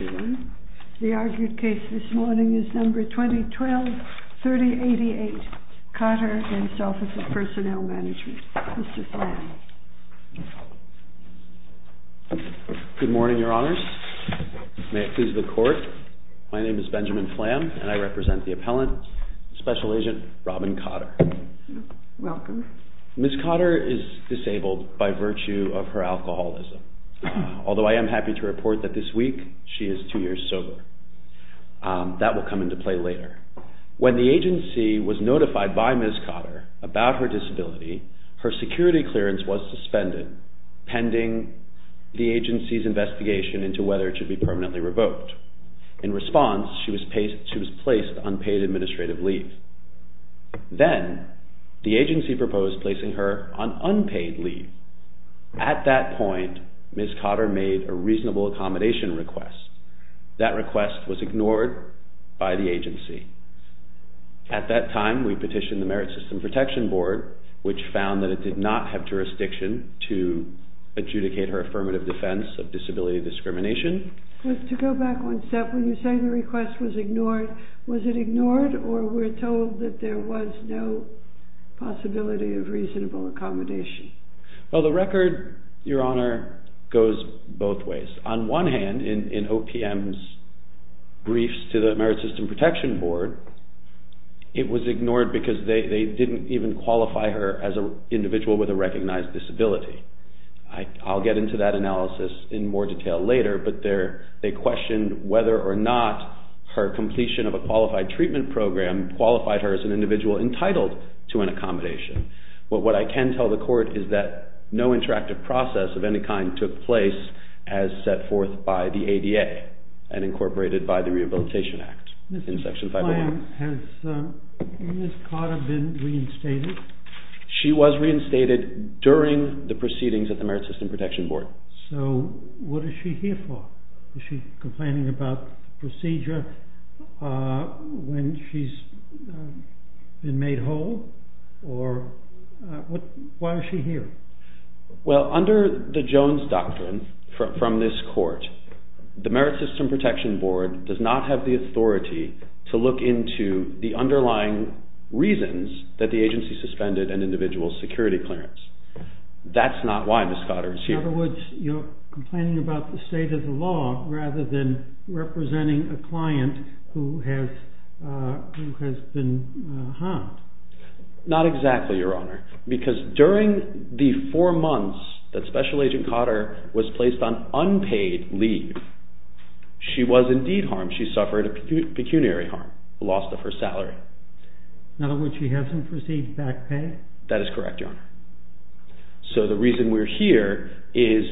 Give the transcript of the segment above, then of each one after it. The argued case this morning is No. 2012-3088, Cotter v. Office of Personnel Management. Mr. Flamm. Good morning, Your Honors. May it please the Court, my name is Benjamin Flamm and I represent the appellant, Special Agent Robin Cotter. Welcome. Ms. Cotter is disabled by virtue of her alcoholism, although I am happy to report that this week she is two years sober. That will come into play later. When the agency was notified by Ms. Cotter about her disability, her security clearance was suspended pending the agency's investigation into whether it should be permanently revoked. In response, she was placed on paid administrative leave. Then, the agency proposed placing her on unpaid leave. At that point, Ms. Cotter made a reasonable accommodation request. That request was ignored by the agency. At that time, we petitioned the Merit System Protection Board, which found that it did not have jurisdiction to adjudicate her affirmative defense of disability discrimination. To go back one step, when you say the request was ignored, was it ignored or we're told that there was no possibility of reasonable accommodation? Well, the record, Your Honor, goes both ways. On one hand, in OPM's briefs to the Merit System Protection Board, it was ignored because they didn't even qualify her as an individual with a recognized disability. I'll get into that analysis in more detail later, but they questioned whether or not her completion of a qualified treatment program qualified her as an individual entitled to an accommodation. What I can tell the court is that no interactive process of any kind took place as set forth by the ADA and incorporated by the Rehabilitation Act in Section 501. Has Ms. Cotter been reinstated? She was reinstated during the proceedings at the Merit System Protection Board. So, what is she here for? Is she complaining about procedure when she's been made whole? Why is she here? Well, under the Jones Doctrine from this court, the Merit System Protection Board does not have the authority to look into the underlying reasons that the agency suspended an individual's security clearance. That's not why Ms. Cotter is here. In other words, you're complaining about the state of the law rather than representing a client who has been harmed. Not exactly, Your Honor, because during the four months that Special Agent Cotter was placed on unpaid leave, she was indeed harmed. She suffered a pecuniary harm, a loss of her salary. In other words, she hasn't received back pay? That is correct, Your Honor. So, the reason we're here is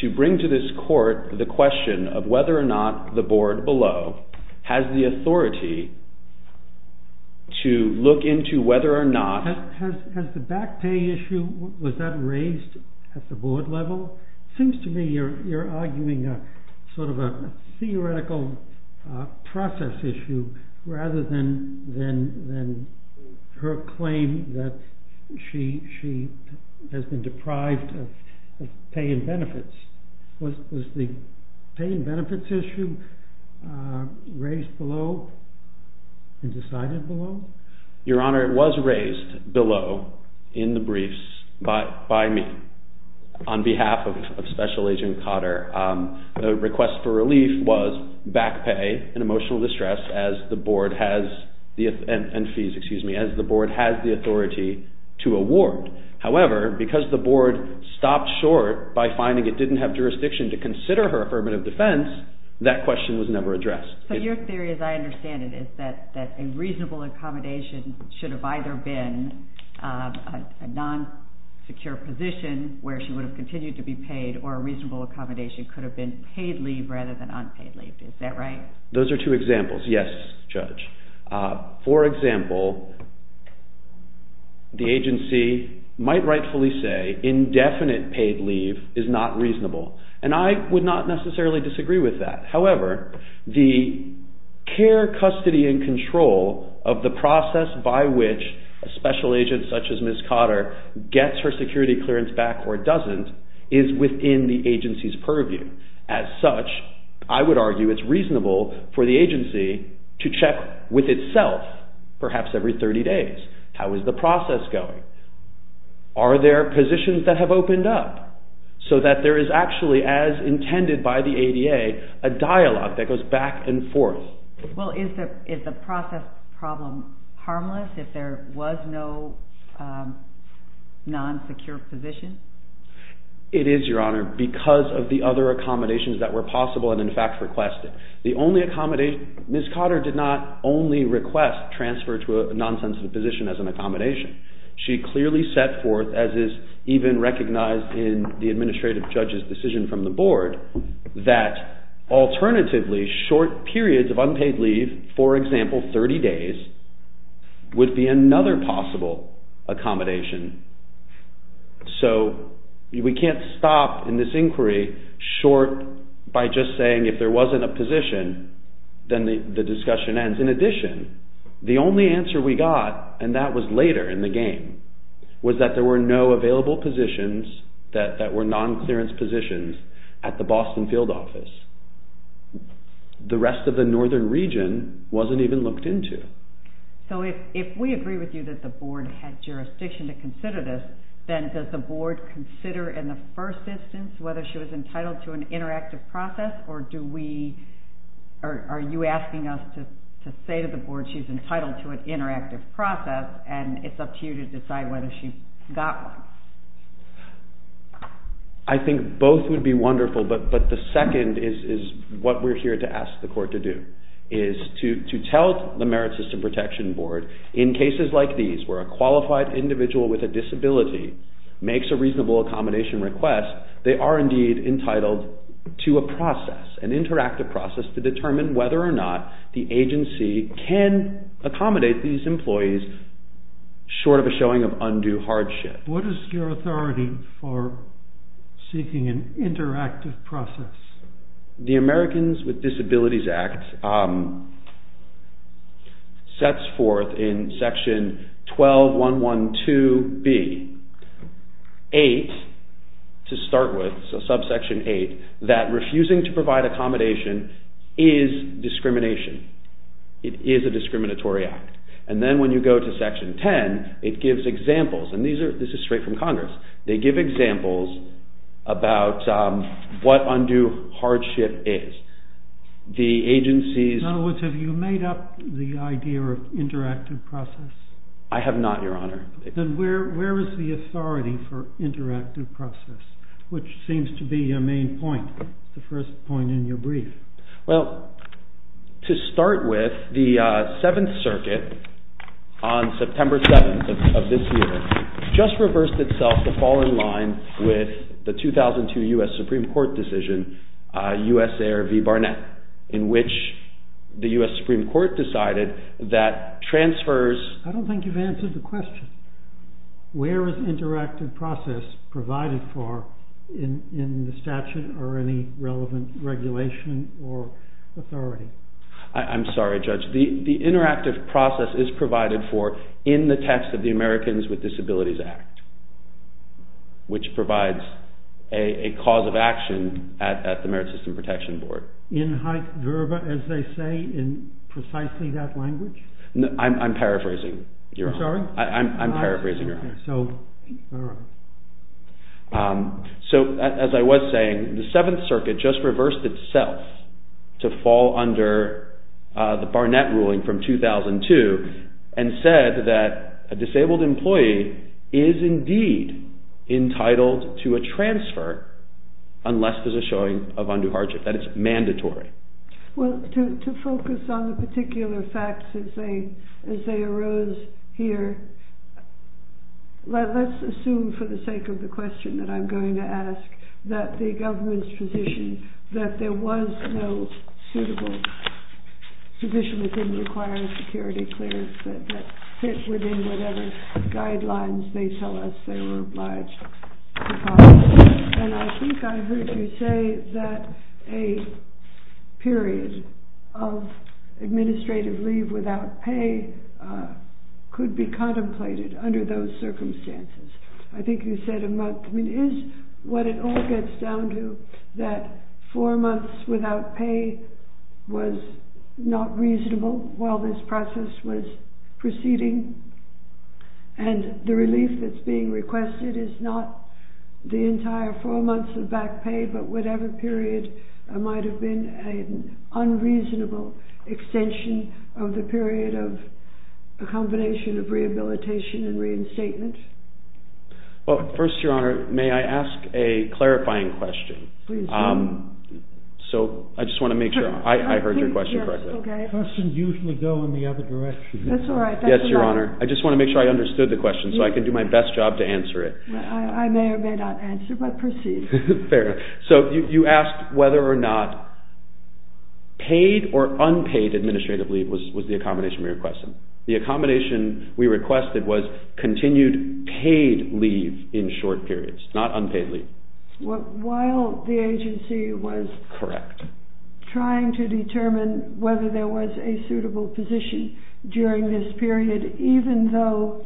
to bring to this court the question of whether or not the board below has the authority to look into whether or not... Has the back pay issue, was that raised at the board level? It seems to me you're arguing sort of a theoretical process issue rather than her claim that she has been deprived of pay and benefits. Was the pay and benefits issue raised below and decided below? Your Honor, it was raised below in the briefs by me on behalf of Special Agent Cotter. The request for relief was back pay and emotional distress as the board has the authority to award. However, because the board stopped short by finding it didn't have jurisdiction to consider her affirmative defense, that question was never addressed. So, your theory, as I understand it, is that a reasonable accommodation should have either been a non-secure position where she would have continued to be paid or a reasonable accommodation could have been paid leave rather than unpaid leave. Is that right? Those are two examples. Yes, Judge. For example, the agency might rightfully say indefinite paid leave is not reasonable and I would not necessarily disagree with that. However, the care, custody and control of the process by which a special agent such as Ms. Cotter gets her security clearance back or doesn't is within the agency's purview. As such, I would argue it's reasonable for the agency to check with itself, perhaps every 30 days, how is the process going. Are there positions that have opened up so that there is actually, as intended by the ADA, a dialogue that goes back and forth? Well, is the process problem harmless if there was no non-secure position? It is, Your Honor, because of the other accommodations that were possible and in fact requested. Ms. Cotter did not only request transfer to a non-sensitive position as an accommodation. She clearly set forth, as is even recognized in the Administrative Judge's decision from the Board, that alternatively short periods of unpaid leave, for example 30 days, would be another possible accommodation. So, we can't stop in this inquiry short by just saying if there wasn't a position, then the discussion ends. In addition, the only answer we got, and that was later in the game, was that there were no available positions that were non-clearance positions at the Boston Field Office. The rest of the Northern Region wasn't even looked into. So, if we agree with you that the Board had jurisdiction to consider this, then does the Board consider, in the first instance, whether she was entitled to an interactive process? Or are you asking us to say to the Board she's entitled to an interactive process and it's up to you to decide whether she got one? I think both would be wonderful, but the second is what we're here to ask the Court to do, is to tell the Merit System Protection Board, in cases like these where a qualified individual with a disability makes a reasonable accommodation request, they are indeed entitled to a process, an interactive process to determine whether or not the agency can accommodate these employees short of a showing of undue hardship. What is your authority for seeking an interactive process? The Americans with Disabilities Act sets forth in Section 12.112.B 8, to start with, so subsection 8, that refusing to provide accommodation is discrimination. It is a discriminatory act. And then when you go to Section 10, it gives examples, and this is straight from Congress, they give examples about what undue hardship is. In other words, have you made up the idea of interactive process? I have not, Your Honor. Then where is the authority for interactive process, which seems to be your main point, the first point in your brief? Well, to start with, the Seventh Circuit, on September 7th of this year, just reversed itself to fall in line with the 2002 U.S. Supreme Court decision, USAIR v. Barnett, in which the U.S. Supreme Court decided that transfers... I'm sorry, Judge. The interactive process is provided for in the text of the Americans with Disabilities Act, which provides a cause of action at the Merit System Protection Board. In high verba, as they say, in precisely that language? I'm paraphrasing, Your Honor. I'm sorry? I'm paraphrasing, Your Honor. So, as I was saying, the Seventh Circuit just reversed itself to fall under the Barnett ruling from 2002 and said that a disabled employee is indeed entitled to a transfer unless there's a showing of undue hardship, that it's mandatory. Well, to focus on the particular facts as they arose here, let's assume, for the sake of the question that I'm going to ask, that the government's position that there was no suitable, sufficiently required security clearance that fit within whatever guidelines they tell us they were obliged to follow. And I think I heard you say that a period of administrative leave without pay could be contemplated under those circumstances. I think you said a month. Is what it all gets down to that four months without pay was not reasonable while this process was proceeding, and the relief that's being requested is not the entire four months of back pay, but whatever period might have been an unreasonable extension of the period of a combination of rehabilitation and reinstatement? Well, first, Your Honor, may I ask a clarifying question? Please do. So, I just want to make sure I heard your question correctly. Okay. Questions usually go in the other direction. That's all right. Yes, Your Honor. I just want to make sure I understood the question so I can do my best job to answer it. I may or may not answer, but proceed. So, you asked whether or not paid or unpaid administrative leave was the accommodation we requested. The accommodation we requested was continued paid leave in short periods, not unpaid leave. While the agency was trying to determine whether there was a suitable position during this period, even though,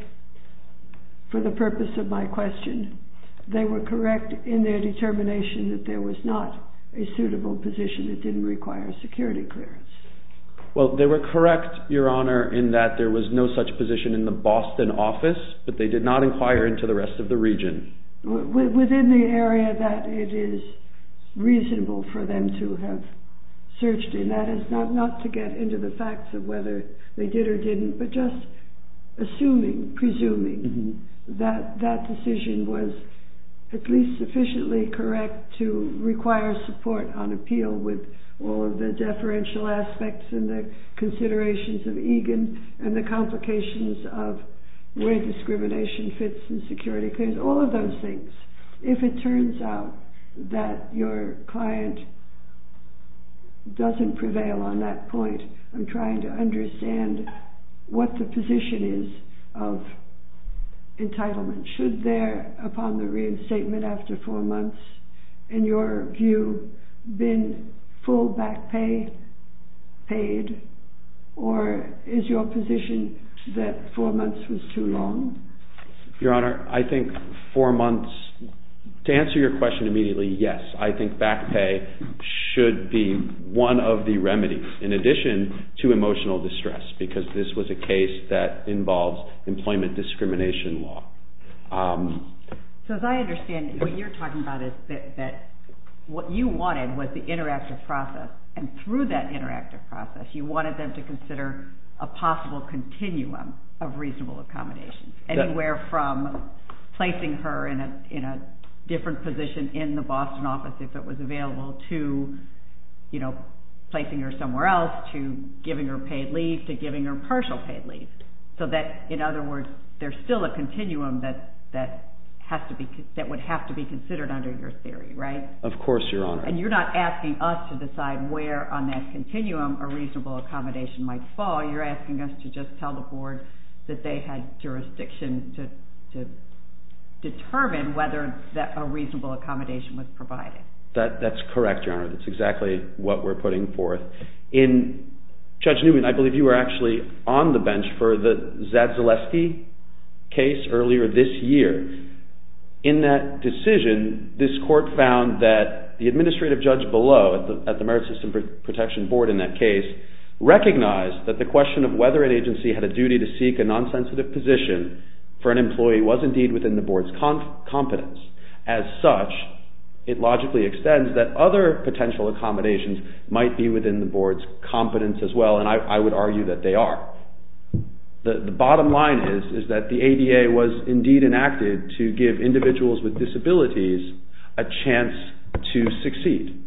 for the purpose of my question, they were correct in their determination that there was not a suitable position that didn't require security clearance. Well, they were correct, Your Honor, in that there was no such position in the Boston office, but they did not inquire into the rest of the region. Within the area that it is reasonable for them to have searched in. That is, not to get into the facts of whether they did or didn't, but just assuming, presuming that that decision was at least sufficiently correct to require support on appeal with all of the deferential aspects and the considerations of EGAN and the complications of where discrimination fits in security claims. With all of those things, if it turns out that your client doesn't prevail on that point, I'm trying to understand what the position is of entitlement. Should there, upon the reinstatement after four months, in your view, been full back pay paid, or is your position that four months was too long? Your Honor, I think four months, to answer your question immediately, yes, I think back pay should be one of the remedies, in addition to emotional distress, because this was a case that involves employment discrimination law. So as I understand it, what you're talking about is that what you wanted was the interactive process, and through that interactive process, you wanted them to consider a possible continuum of reasonable accommodations. Anywhere from placing her in a different position in the Boston office, if it was available, to placing her somewhere else, to giving her paid leave, to giving her partial paid leave. So that, in other words, there's still a continuum that would have to be considered under your theory, right? Of course, Your Honor. And you're not asking us to decide where on that continuum a reasonable accommodation might fall, you're asking us to just tell the board that they had jurisdiction to determine whether a reasonable accommodation was provided. That's correct, Your Honor, that's exactly what we're putting forth. Judge Newman, I believe you were actually on the bench for the Zadzileski case earlier this year. In that decision, this court found that the administrative judge below, at the Merit System Protection Board in that case, recognized that the question of whether an agency had a duty to seek a non-sensitive position for an employee was indeed within the board's competence. As such, it logically extends that other potential accommodations might be within the board's competence as well, and I would argue that they are. The bottom line is that the ADA was indeed enacted to give individuals with disabilities a chance to succeed,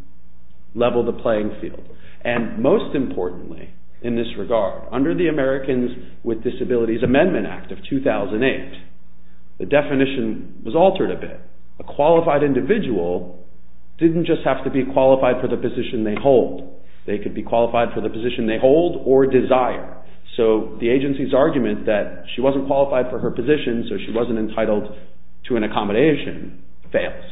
level the playing field. And most importantly in this regard, under the Americans with Disabilities Amendment Act of 2008, the definition was altered a bit. A qualified individual didn't just have to be qualified for the position they hold. They could be qualified for the position they hold or desire. So the agency's argument that she wasn't qualified for her position, so she wasn't entitled to an accommodation, fails.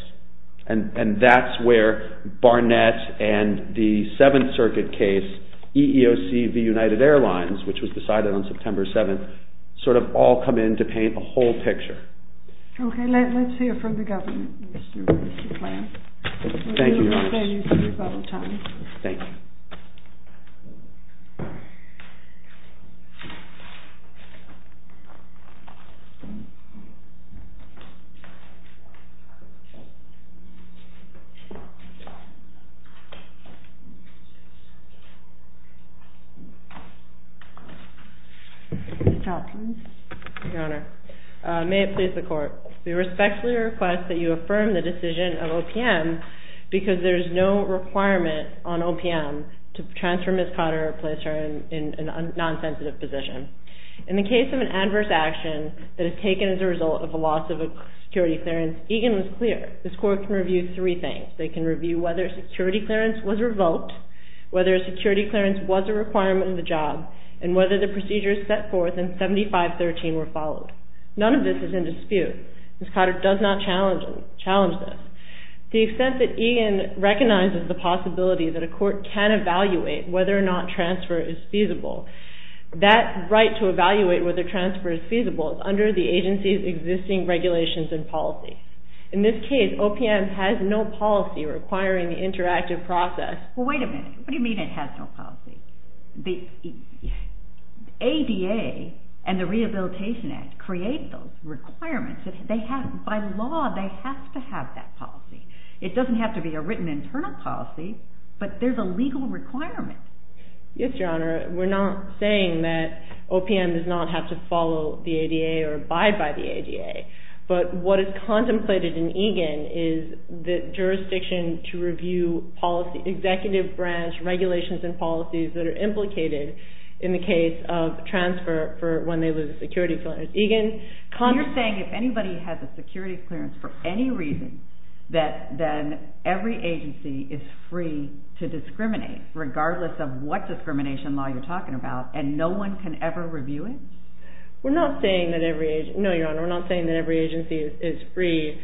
And that's where Barnett and the Seventh Circuit case, EEOC v. United Airlines, which was decided on September 7th, sort of all come in to paint a whole picture. Okay, let's hear from the government. Your Honor, may it please the Court, we respectfully request that you affirm the decision of OPM, because there is no requirement on OPM to transfer Ms. Cotter or place her in a non-sensitive position. In the case of an adverse action that is taken as a result of a loss of a security clearance, EGAN was clear. This Court can review three things. They can review whether a security clearance was revoked, whether a security clearance was a requirement of the job, and whether the procedures set forth in 7513 were followed. None of this is in dispute. Ms. Cotter does not challenge this. To the extent that EGAN recognizes the possibility that a court can evaluate whether or not transfer is feasible, that right to evaluate whether transfer is feasible is under the agency's existing regulations and policy. In this case, OPM has no policy requiring the interactive process. Well, wait a minute. What do you mean it has no policy? ADA and the Rehabilitation Act create those requirements. By law, they have to have that policy. It doesn't have to be a written internal policy, but there's a legal requirement. Yes, Your Honor. We're not saying that OPM does not have to follow the ADA or abide by the ADA, but what is contemplated in EGAN is the jurisdiction to review executive branch regulations and policies that are implicated in the case of transfer for when they lose a security clearance. You're saying if anybody has a security clearance for any reason, then every agency is free to discriminate, regardless of what discrimination law you're talking about, and no one can ever review it? No, Your Honor. We're not saying that every agency is free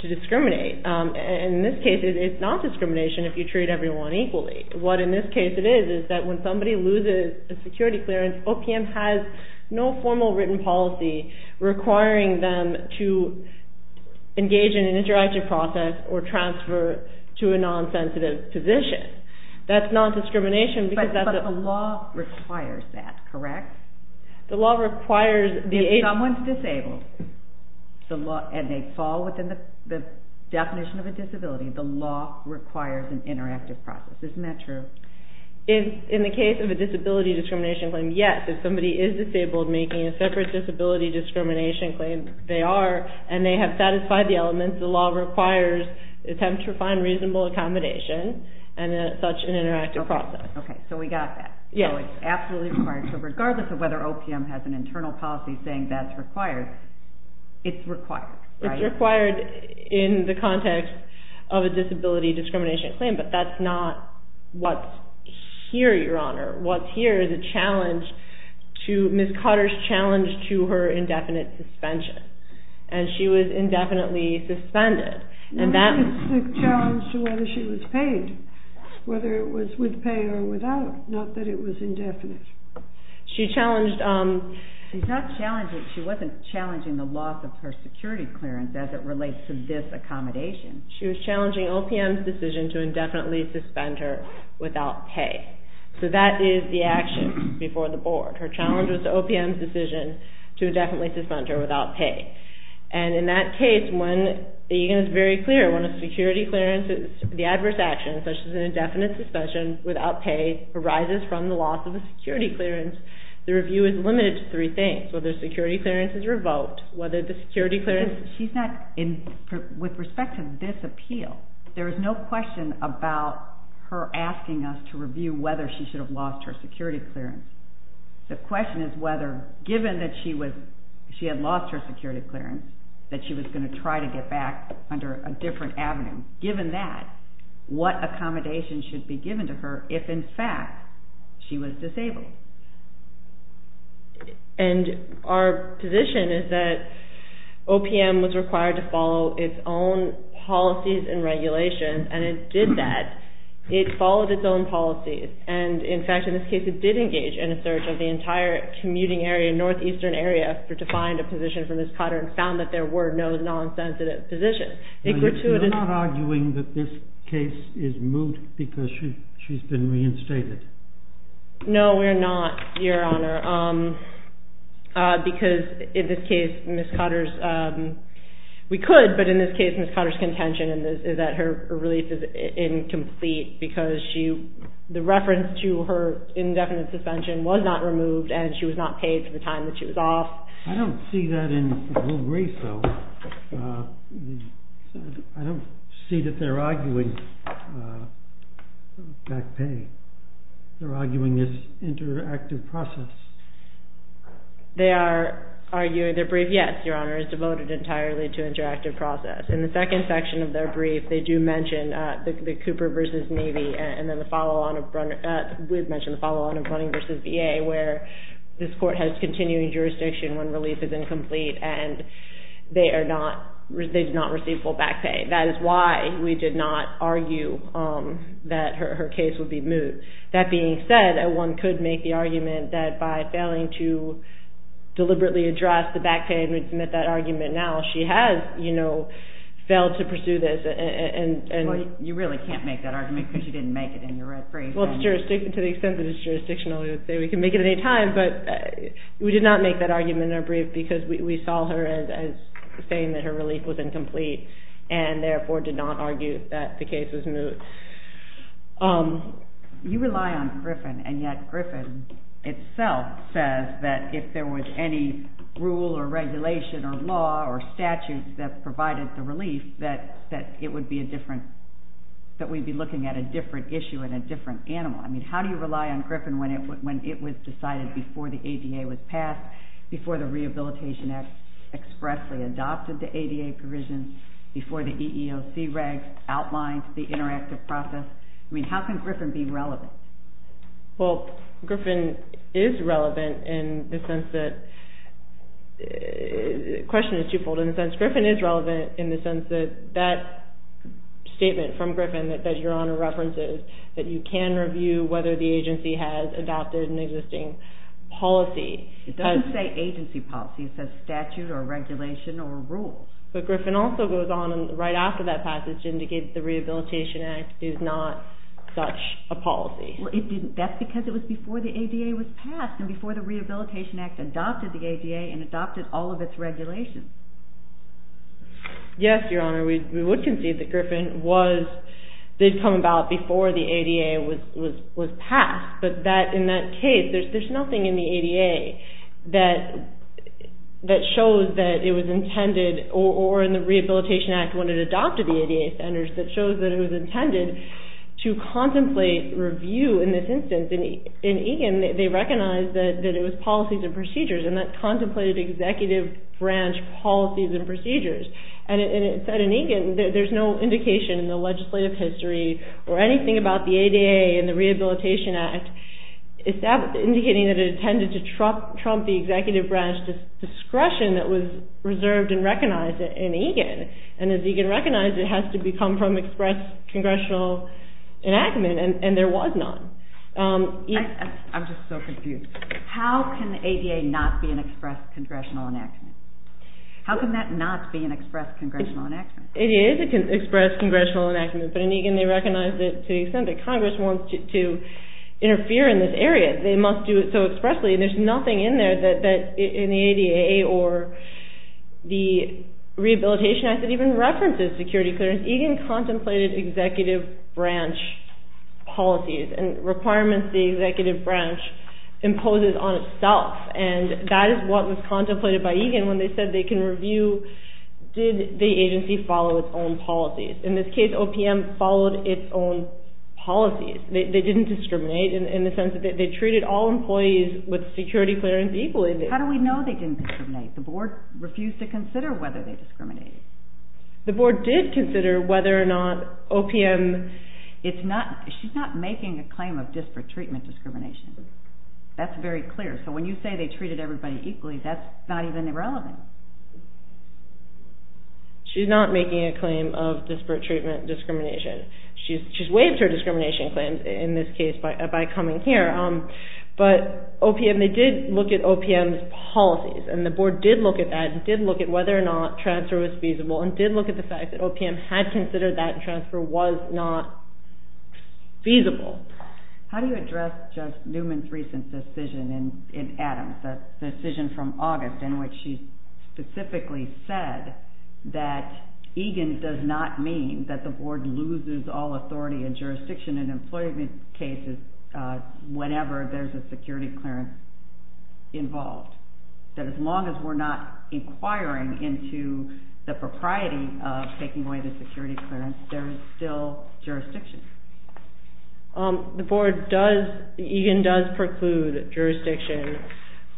to discriminate. In this case, it's not discrimination if you treat everyone equally. What in this case it is is that when somebody loses a security clearance, OPM has no formal written policy requiring them to engage in an interactive process or transfer to a non-sensitive position. That's not discrimination. But the law requires that, correct? If someone's disabled and they fall within the definition of a disability, the law requires an interactive process. Isn't that true? In the case of a disability discrimination claim, yes. If somebody is disabled making a separate disability discrimination claim, they are, and they have satisfied the elements, the law requires an attempt to find reasonable accommodation and such an interactive process. Okay, so we got that. So it's absolutely required. So regardless of whether OPM has an internal policy saying that's required, it's required, right? It's required in the context of a disability discrimination claim, but that's not what's here, Your Honor. What's here is a challenge to Ms. Cutter's challenge to her indefinite suspension, and she was indefinitely suspended. It's a challenge to whether she was paid, whether it was with pay or without, not that it was indefinite. She challenged, she's not challenging, she wasn't challenging the loss of her security clearance as it relates to this accommodation. She was challenging OPM's decision to indefinitely suspend her without pay. So that is the action before the board. Her challenge was to OPM's decision to indefinitely suspend her without pay. And in that case, when, again it's very clear, when a security clearance, the adverse action such as an indefinite suspension without pay arises from the loss of a security clearance, the review is limited to three things. Whether security clearance is revoked, whether the security clearance... She's not, with respect to this appeal, there is no question about her asking us to review whether she should have lost her security clearance. The question is whether, given that she had lost her security clearance, that she was going to try to get back under a different avenue. Given that, what accommodation should be given to her if in fact she was disabled? And our position is that OPM was required to follow its own policies and regulations, and it did that. It followed its own policies, and in fact in this case it did engage in a search of the entire commuting area, northeastern area, to find a position for Ms. Cotter and found that there were no non-sensitive positions. You're not arguing that this case is moot because she's been reinstated? No, we're not, Your Honor, because in this case Ms. Cotter's... We could, but in this case Ms. Cotter's contention is that her release is incomplete because the reference to her indefinite suspension was not removed and she was not paid for the time that she was off. I don't see that in Will Grace, though. I don't see that they're arguing back pay. They're arguing this interactive process. They are arguing their brief, yes, Your Honor, is devoted entirely to interactive process. In the second section of their brief they do mention the Cooper v. Navy and then the follow-on of Brunning v. VA where this court has continuing jurisdiction when release is incomplete and they do not receive full back pay. That is why we did not argue that her case would be moot. That being said, one could make the argument that by failing to deliberately address the back pay, and we'd submit that argument now, she has failed to pursue this. You really can't make that argument because you didn't make it in your red brief. To the extent that it's jurisdictional we can make it at any time, but we did not make that argument in our brief because we saw her as saying that her relief was incomplete and therefore did not argue that the case was moot. You rely on Griffin and yet Griffin itself says that if there was any rule or regulation or law or statute that provided the relief that it would be a different, that we'd be looking at a different issue and a different animal. How do you rely on Griffin when it was decided before the ADA was passed, before the Rehabilitation Act expressly adopted the ADA provision, before the EEOC regs outlined the interactive process? How can Griffin be relevant? Well, Griffin is relevant in the sense that, the question is two-fold, in the sense that Griffin is relevant in the sense that that statement from Griffin that Your Honor references, that you can review whether the agency has adopted an existing policy. It doesn't say agency policy, it says statute or regulation or rule. But Griffin also goes on right after that passage to indicate that the Rehabilitation Act is not such a policy. That's because it was before the ADA was passed and before the Rehabilitation Act adopted the ADA and adopted all of its regulations. Yes, Your Honor, we would concede that Griffin was, did come about before the ADA was passed. But that, in that case, there's nothing in the ADA that shows that it was intended or in the Rehabilitation Act when it adopted the ADA standards that shows that it was intended to contemplate review in this instance. In Egan, they recognized that it was policies and procedures and that contemplated executive branch policies and procedures. And it said in Egan that there's no indication in the legislative history or anything about the ADA and the Rehabilitation Act, indicating that it intended to trump the executive branch discretion that was reserved and recognized in Egan. And as Egan recognized, it has to come from express congressional enactment and there was none. I'm just so confused. How can ADA not be an express congressional enactment? How can that not be an express congressional enactment? It is an express congressional enactment, but in Egan they recognized it to the extent that Congress wants to interfere in this area. They must do it so expressly and there's nothing in there that in the ADA or the Rehabilitation Act that even references security clearance. Because Egan contemplated executive branch policies and requirements the executive branch imposes on itself. And that is what was contemplated by Egan when they said they can review did the agency follow its own policies. In this case, OPM followed its own policies. They didn't discriminate in the sense that they treated all employees with security clearance equally. How do we know they didn't discriminate? The board refused to consider whether they discriminated. The board did consider whether or not OPM... She's not making a claim of disparate treatment discrimination. That's very clear. So when you say they treated everybody equally, that's not even irrelevant. She's not making a claim of disparate treatment discrimination. She's waived her discrimination claims in this case by coming here. But OPM, they did look at OPM's policies. And the board did look at that and did look at whether or not transfer was feasible and did look at the fact that OPM had considered that transfer was not feasible. How do you address Judge Newman's recent decision in Adams, the decision from August in which she specifically said that Egan does not mean that the board loses all authority and jurisdiction in employment cases whenever there's a security clearance involved. That as long as we're not inquiring into the propriety of taking away the security clearance, there is still jurisdiction. The board does, Egan does preclude jurisdiction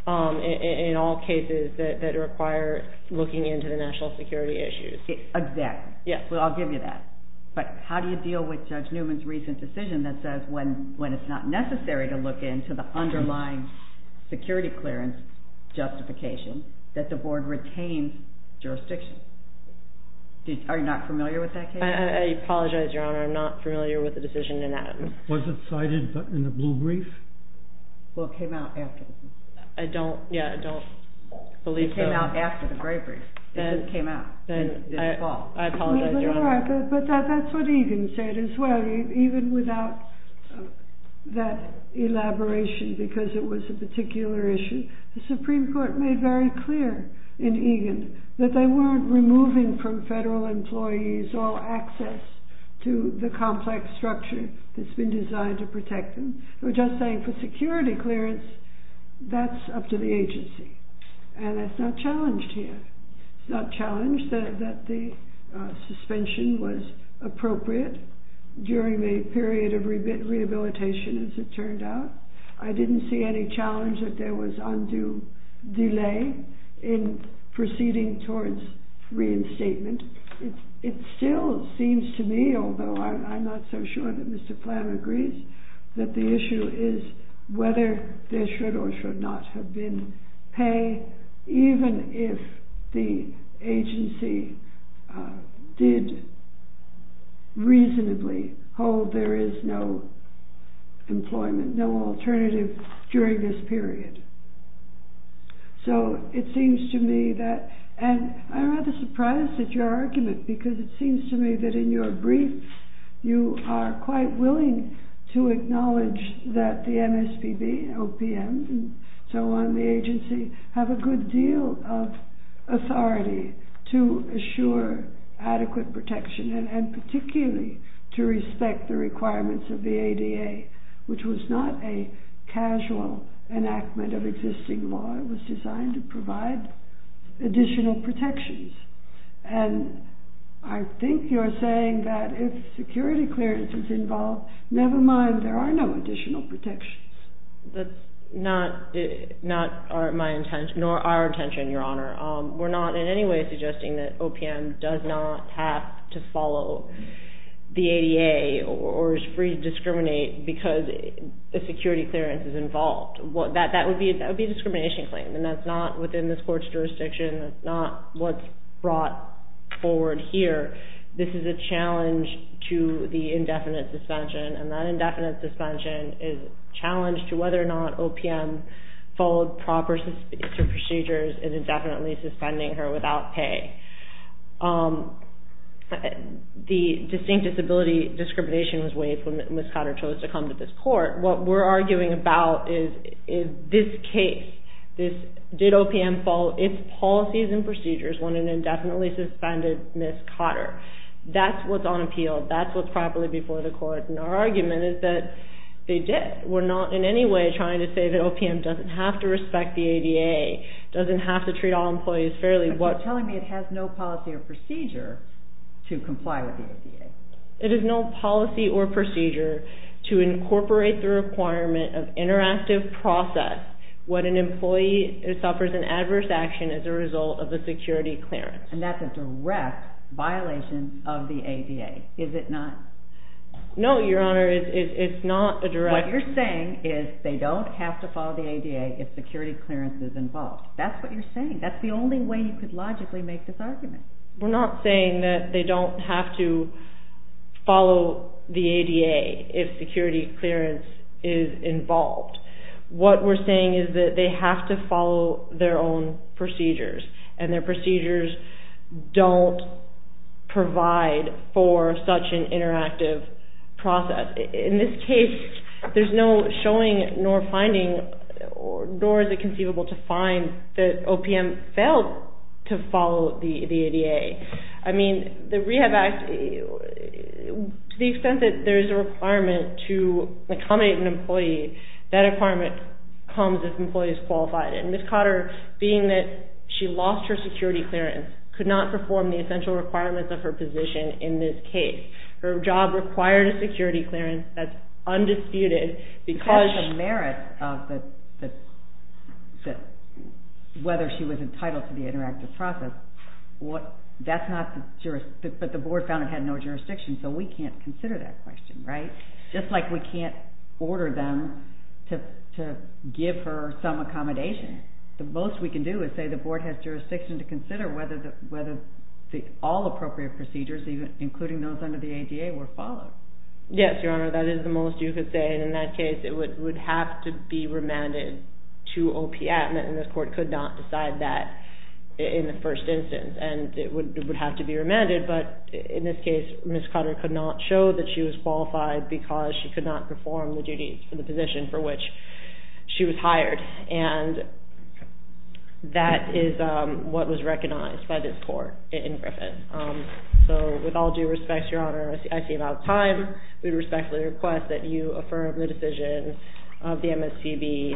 in all cases that require looking into the national security issues. Exactly. Yes. Well, I'll give you that. But how do you deal with Judge Newman's recent decision that says when it's not necessary to look into the underlying security clearance justification that the board retains jurisdiction? Are you not familiar with that case? I apologize, Your Honor. I'm not familiar with the decision in Adams. Was it cited in the blue brief? Well, it came out after. I don't, yeah, I don't believe so. It came out after the gray brief. It just came out. Then I apologize, Your Honor. But that's what Egan said as well. Even without that elaboration because it was a particular issue, the Supreme Court made very clear in Egan that they weren't removing from federal employees all access to the complex structure that's been designed to protect them. They were just saying for security clearance, that's up to the agency. And that's not challenged here. It's not challenged that the suspension was appropriate during the period of rehabilitation as it turned out. I didn't see any challenge that there was undue delay in proceeding towards reinstatement. It still seems to me, although I'm not so sure that Mr. Flam agrees, that the issue is whether there should or should not have been pay, even if the agency did reasonably hold there is no employment, no alternative during this period. So it seems to me that, and I'm rather surprised at your argument because it seems to me that in your brief, you are quite willing to acknowledge that the MSPB, OPM, and so on, the agency, have a good deal of authority to assure adequate protection and particularly to respect the requirements of the ADA, which was not a casual enactment of existing law. It was designed to provide additional protections. And I think you're saying that if security clearance is involved, never mind, there are no additional protections. That's not my intention, nor our intention, Your Honor. We're not in any way suggesting that OPM does not have to follow the ADA or is free to discriminate because a security clearance is involved. That would be a discrimination claim, and that's not within this court's jurisdiction. That's not what's brought forward here. This is a challenge to the indefinite suspension, and that indefinite suspension is a challenge to whether or not OPM followed proper procedures in indefinitely suspending her without pay. The distinct disability discrimination was waived when Ms. Cotter chose to come to this court. What we're arguing about is this case. Did OPM follow its policies and procedures when it indefinitely suspended Ms. Cotter? That's what's on appeal. That's what's properly before the court, and our argument is that they did. We're not in any way trying to say that OPM doesn't have to respect the ADA, doesn't have to treat all employees fairly. But you're telling me it has no policy or procedure to comply with the ADA. It has no policy or procedure to incorporate the requirement of interactive process when an employee suffers an adverse action as a result of a security clearance. And that's a direct violation of the ADA, is it not? No, Your Honor, it's not a direct violation. What you're saying is they don't have to follow the ADA if security clearance is involved. That's what you're saying. We're not saying that they don't have to follow the ADA if security clearance is involved. What we're saying is that they have to follow their own procedures, and their procedures don't provide for such an interactive process. In this case, there's no showing nor finding, nor is it conceivable to find, that OPM failed to follow the ADA. I mean, the Rehab Act, to the extent that there's a requirement to accommodate an employee, that requirement comes if an employee is qualified. And Ms. Cotter, being that she lost her security clearance, could not perform the essential requirements of her position in this case. Her job required a security clearance that's undisputed because... That's a merit of whether she was entitled to the interactive process. But the board found it had no jurisdiction, so we can't consider that question, right? Just like we can't order them to give her some accommodation. The most we can do is say the board has jurisdiction to consider whether all appropriate procedures, including those under the ADA, were followed. Yes, Your Honor, that is the most you could say. And in that case, it would have to be remanded to OPM, and this court could not decide that in the first instance. And it would have to be remanded, but in this case, Ms. Cotter could not show that she was qualified because she could not perform the duties for the position for which she was hired. And that is what was recognized by this court in Griffith. So with all due respect, Your Honor, I see we're out of time. We respectfully request that you affirm the decision of the MSTB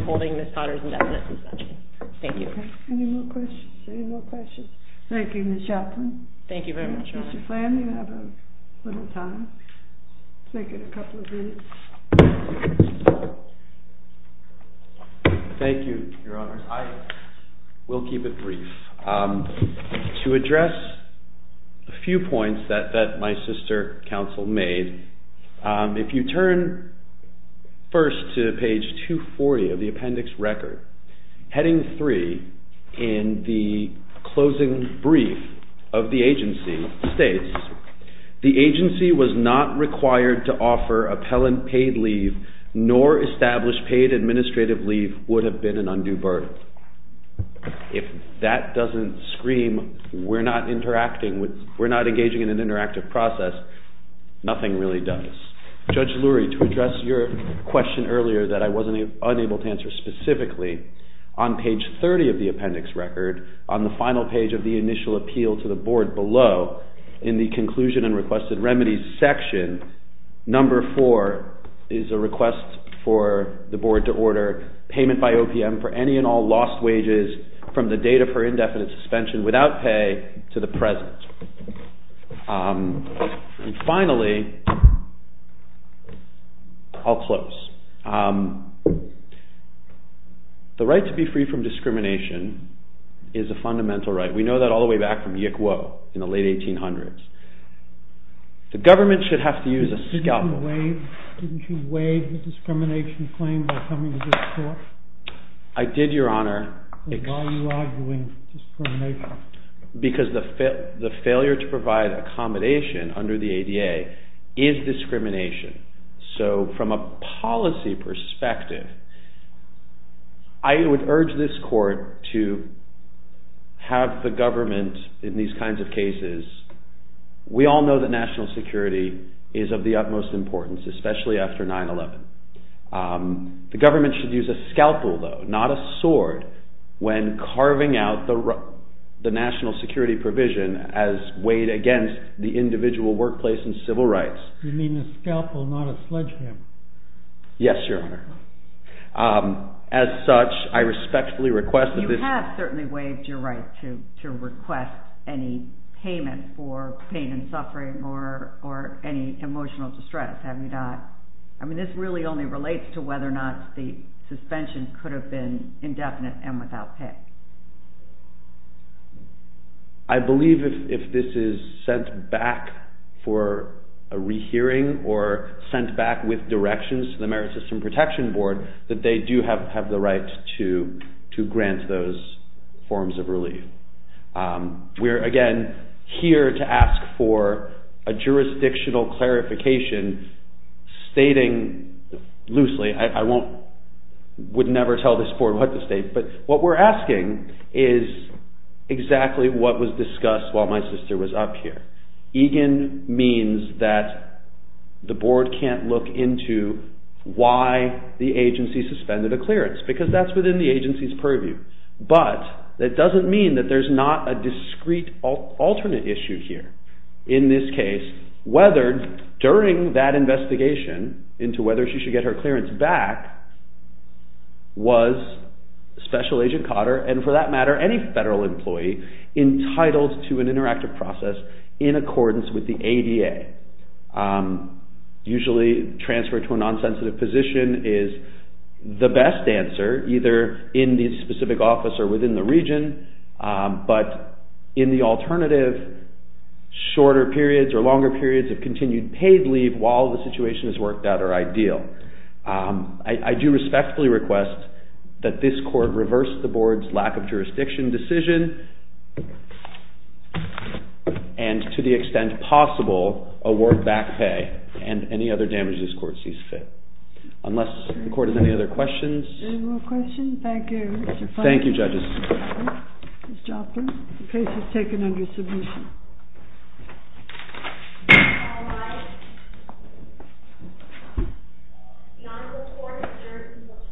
upholding Ms. Cotter's indefinite suspension. Thank you. Any more questions? Any more questions? Thank you, Ms. Joplin. Thank you very much, Your Honor. Mr. Flanagan, you have a little time. Let's make it a couple of minutes. Thank you, Your Honors. I will keep it brief. To address a few points that my sister counsel made, if you turn first to page 240 of the appendix record, heading three in the closing brief of the agency states, the agency was not required to offer appellant paid leave, nor established paid administrative leave would have been an undue burden. If that doesn't scream we're not engaging in an interactive process, nothing really does. Judge Lurie, to address your question earlier that I wasn't able to answer specifically, on page 30 of the appendix record, on the final page of the initial appeal to the board below, in the conclusion and requested remedies section, number four is a request for the board to order payment by OPM for any and all lost wages from the date of her indefinite suspension without pay to the present. And finally, I'll close. The right to be free from discrimination is a fundamental right. We know that all the way back from Yick Wo in the late 1800s. The government should have to use a scalpel. Didn't you waive the discrimination claim by coming to this court? I did, Your Honor. Then why are you arguing discrimination? Because the failure to provide accommodation under the ADA is discrimination. So from a policy perspective, I would urge this court to have the government, in these kinds of cases, we all know that national security is of the utmost importance, especially after 9-11. The government should use a scalpel, though, not a sword, when carving out the national security provision as weighed against the individual workplace and civil rights. You mean a scalpel, not a sledgehammer? Yes, Your Honor. As such, I respectfully request that this... You have certainly waived your right to request any payment for pain and suffering or any emotional distress, have you not? I mean, this really only relates to whether or not the suspension could have been indefinite and without pay. I believe if this is sent back for a rehearing or sent back with directions to the Merit System Protection Board, that they do have the right to grant those forms of relief. We're, again, here to ask for a jurisdictional clarification stating loosely, I would never tell this court what to state, but what we're asking is exactly what was discussed while my sister was up here. EGIN means that the board can't look into why the agency suspended a clearance, because that's within the agency's purview. But that doesn't mean that there's not a discrete alternate issue here. In this case, whether during that investigation into whether she should get her clearance back, was Special Agent Cotter, and for that matter, any federal employee, entitled to an interactive process in accordance with the ADA. Usually, transfer to a non-sensitive position is the best answer, either in the specific office or within the region. But in the alternative, shorter periods or longer periods of continued paid leave while the situation is worked out are ideal. I do respectfully request that this court reverse the board's lack of jurisdiction decision, and to the extent possible, award back pay and any other damages this court sees fit. Unless the court has any other questions? Any more questions? Thank you. Thank you, judges. Ms. Joplin, the case is taken under submission. All rise. The honorable court adjourns until tomorrow morning at 6 o'clock.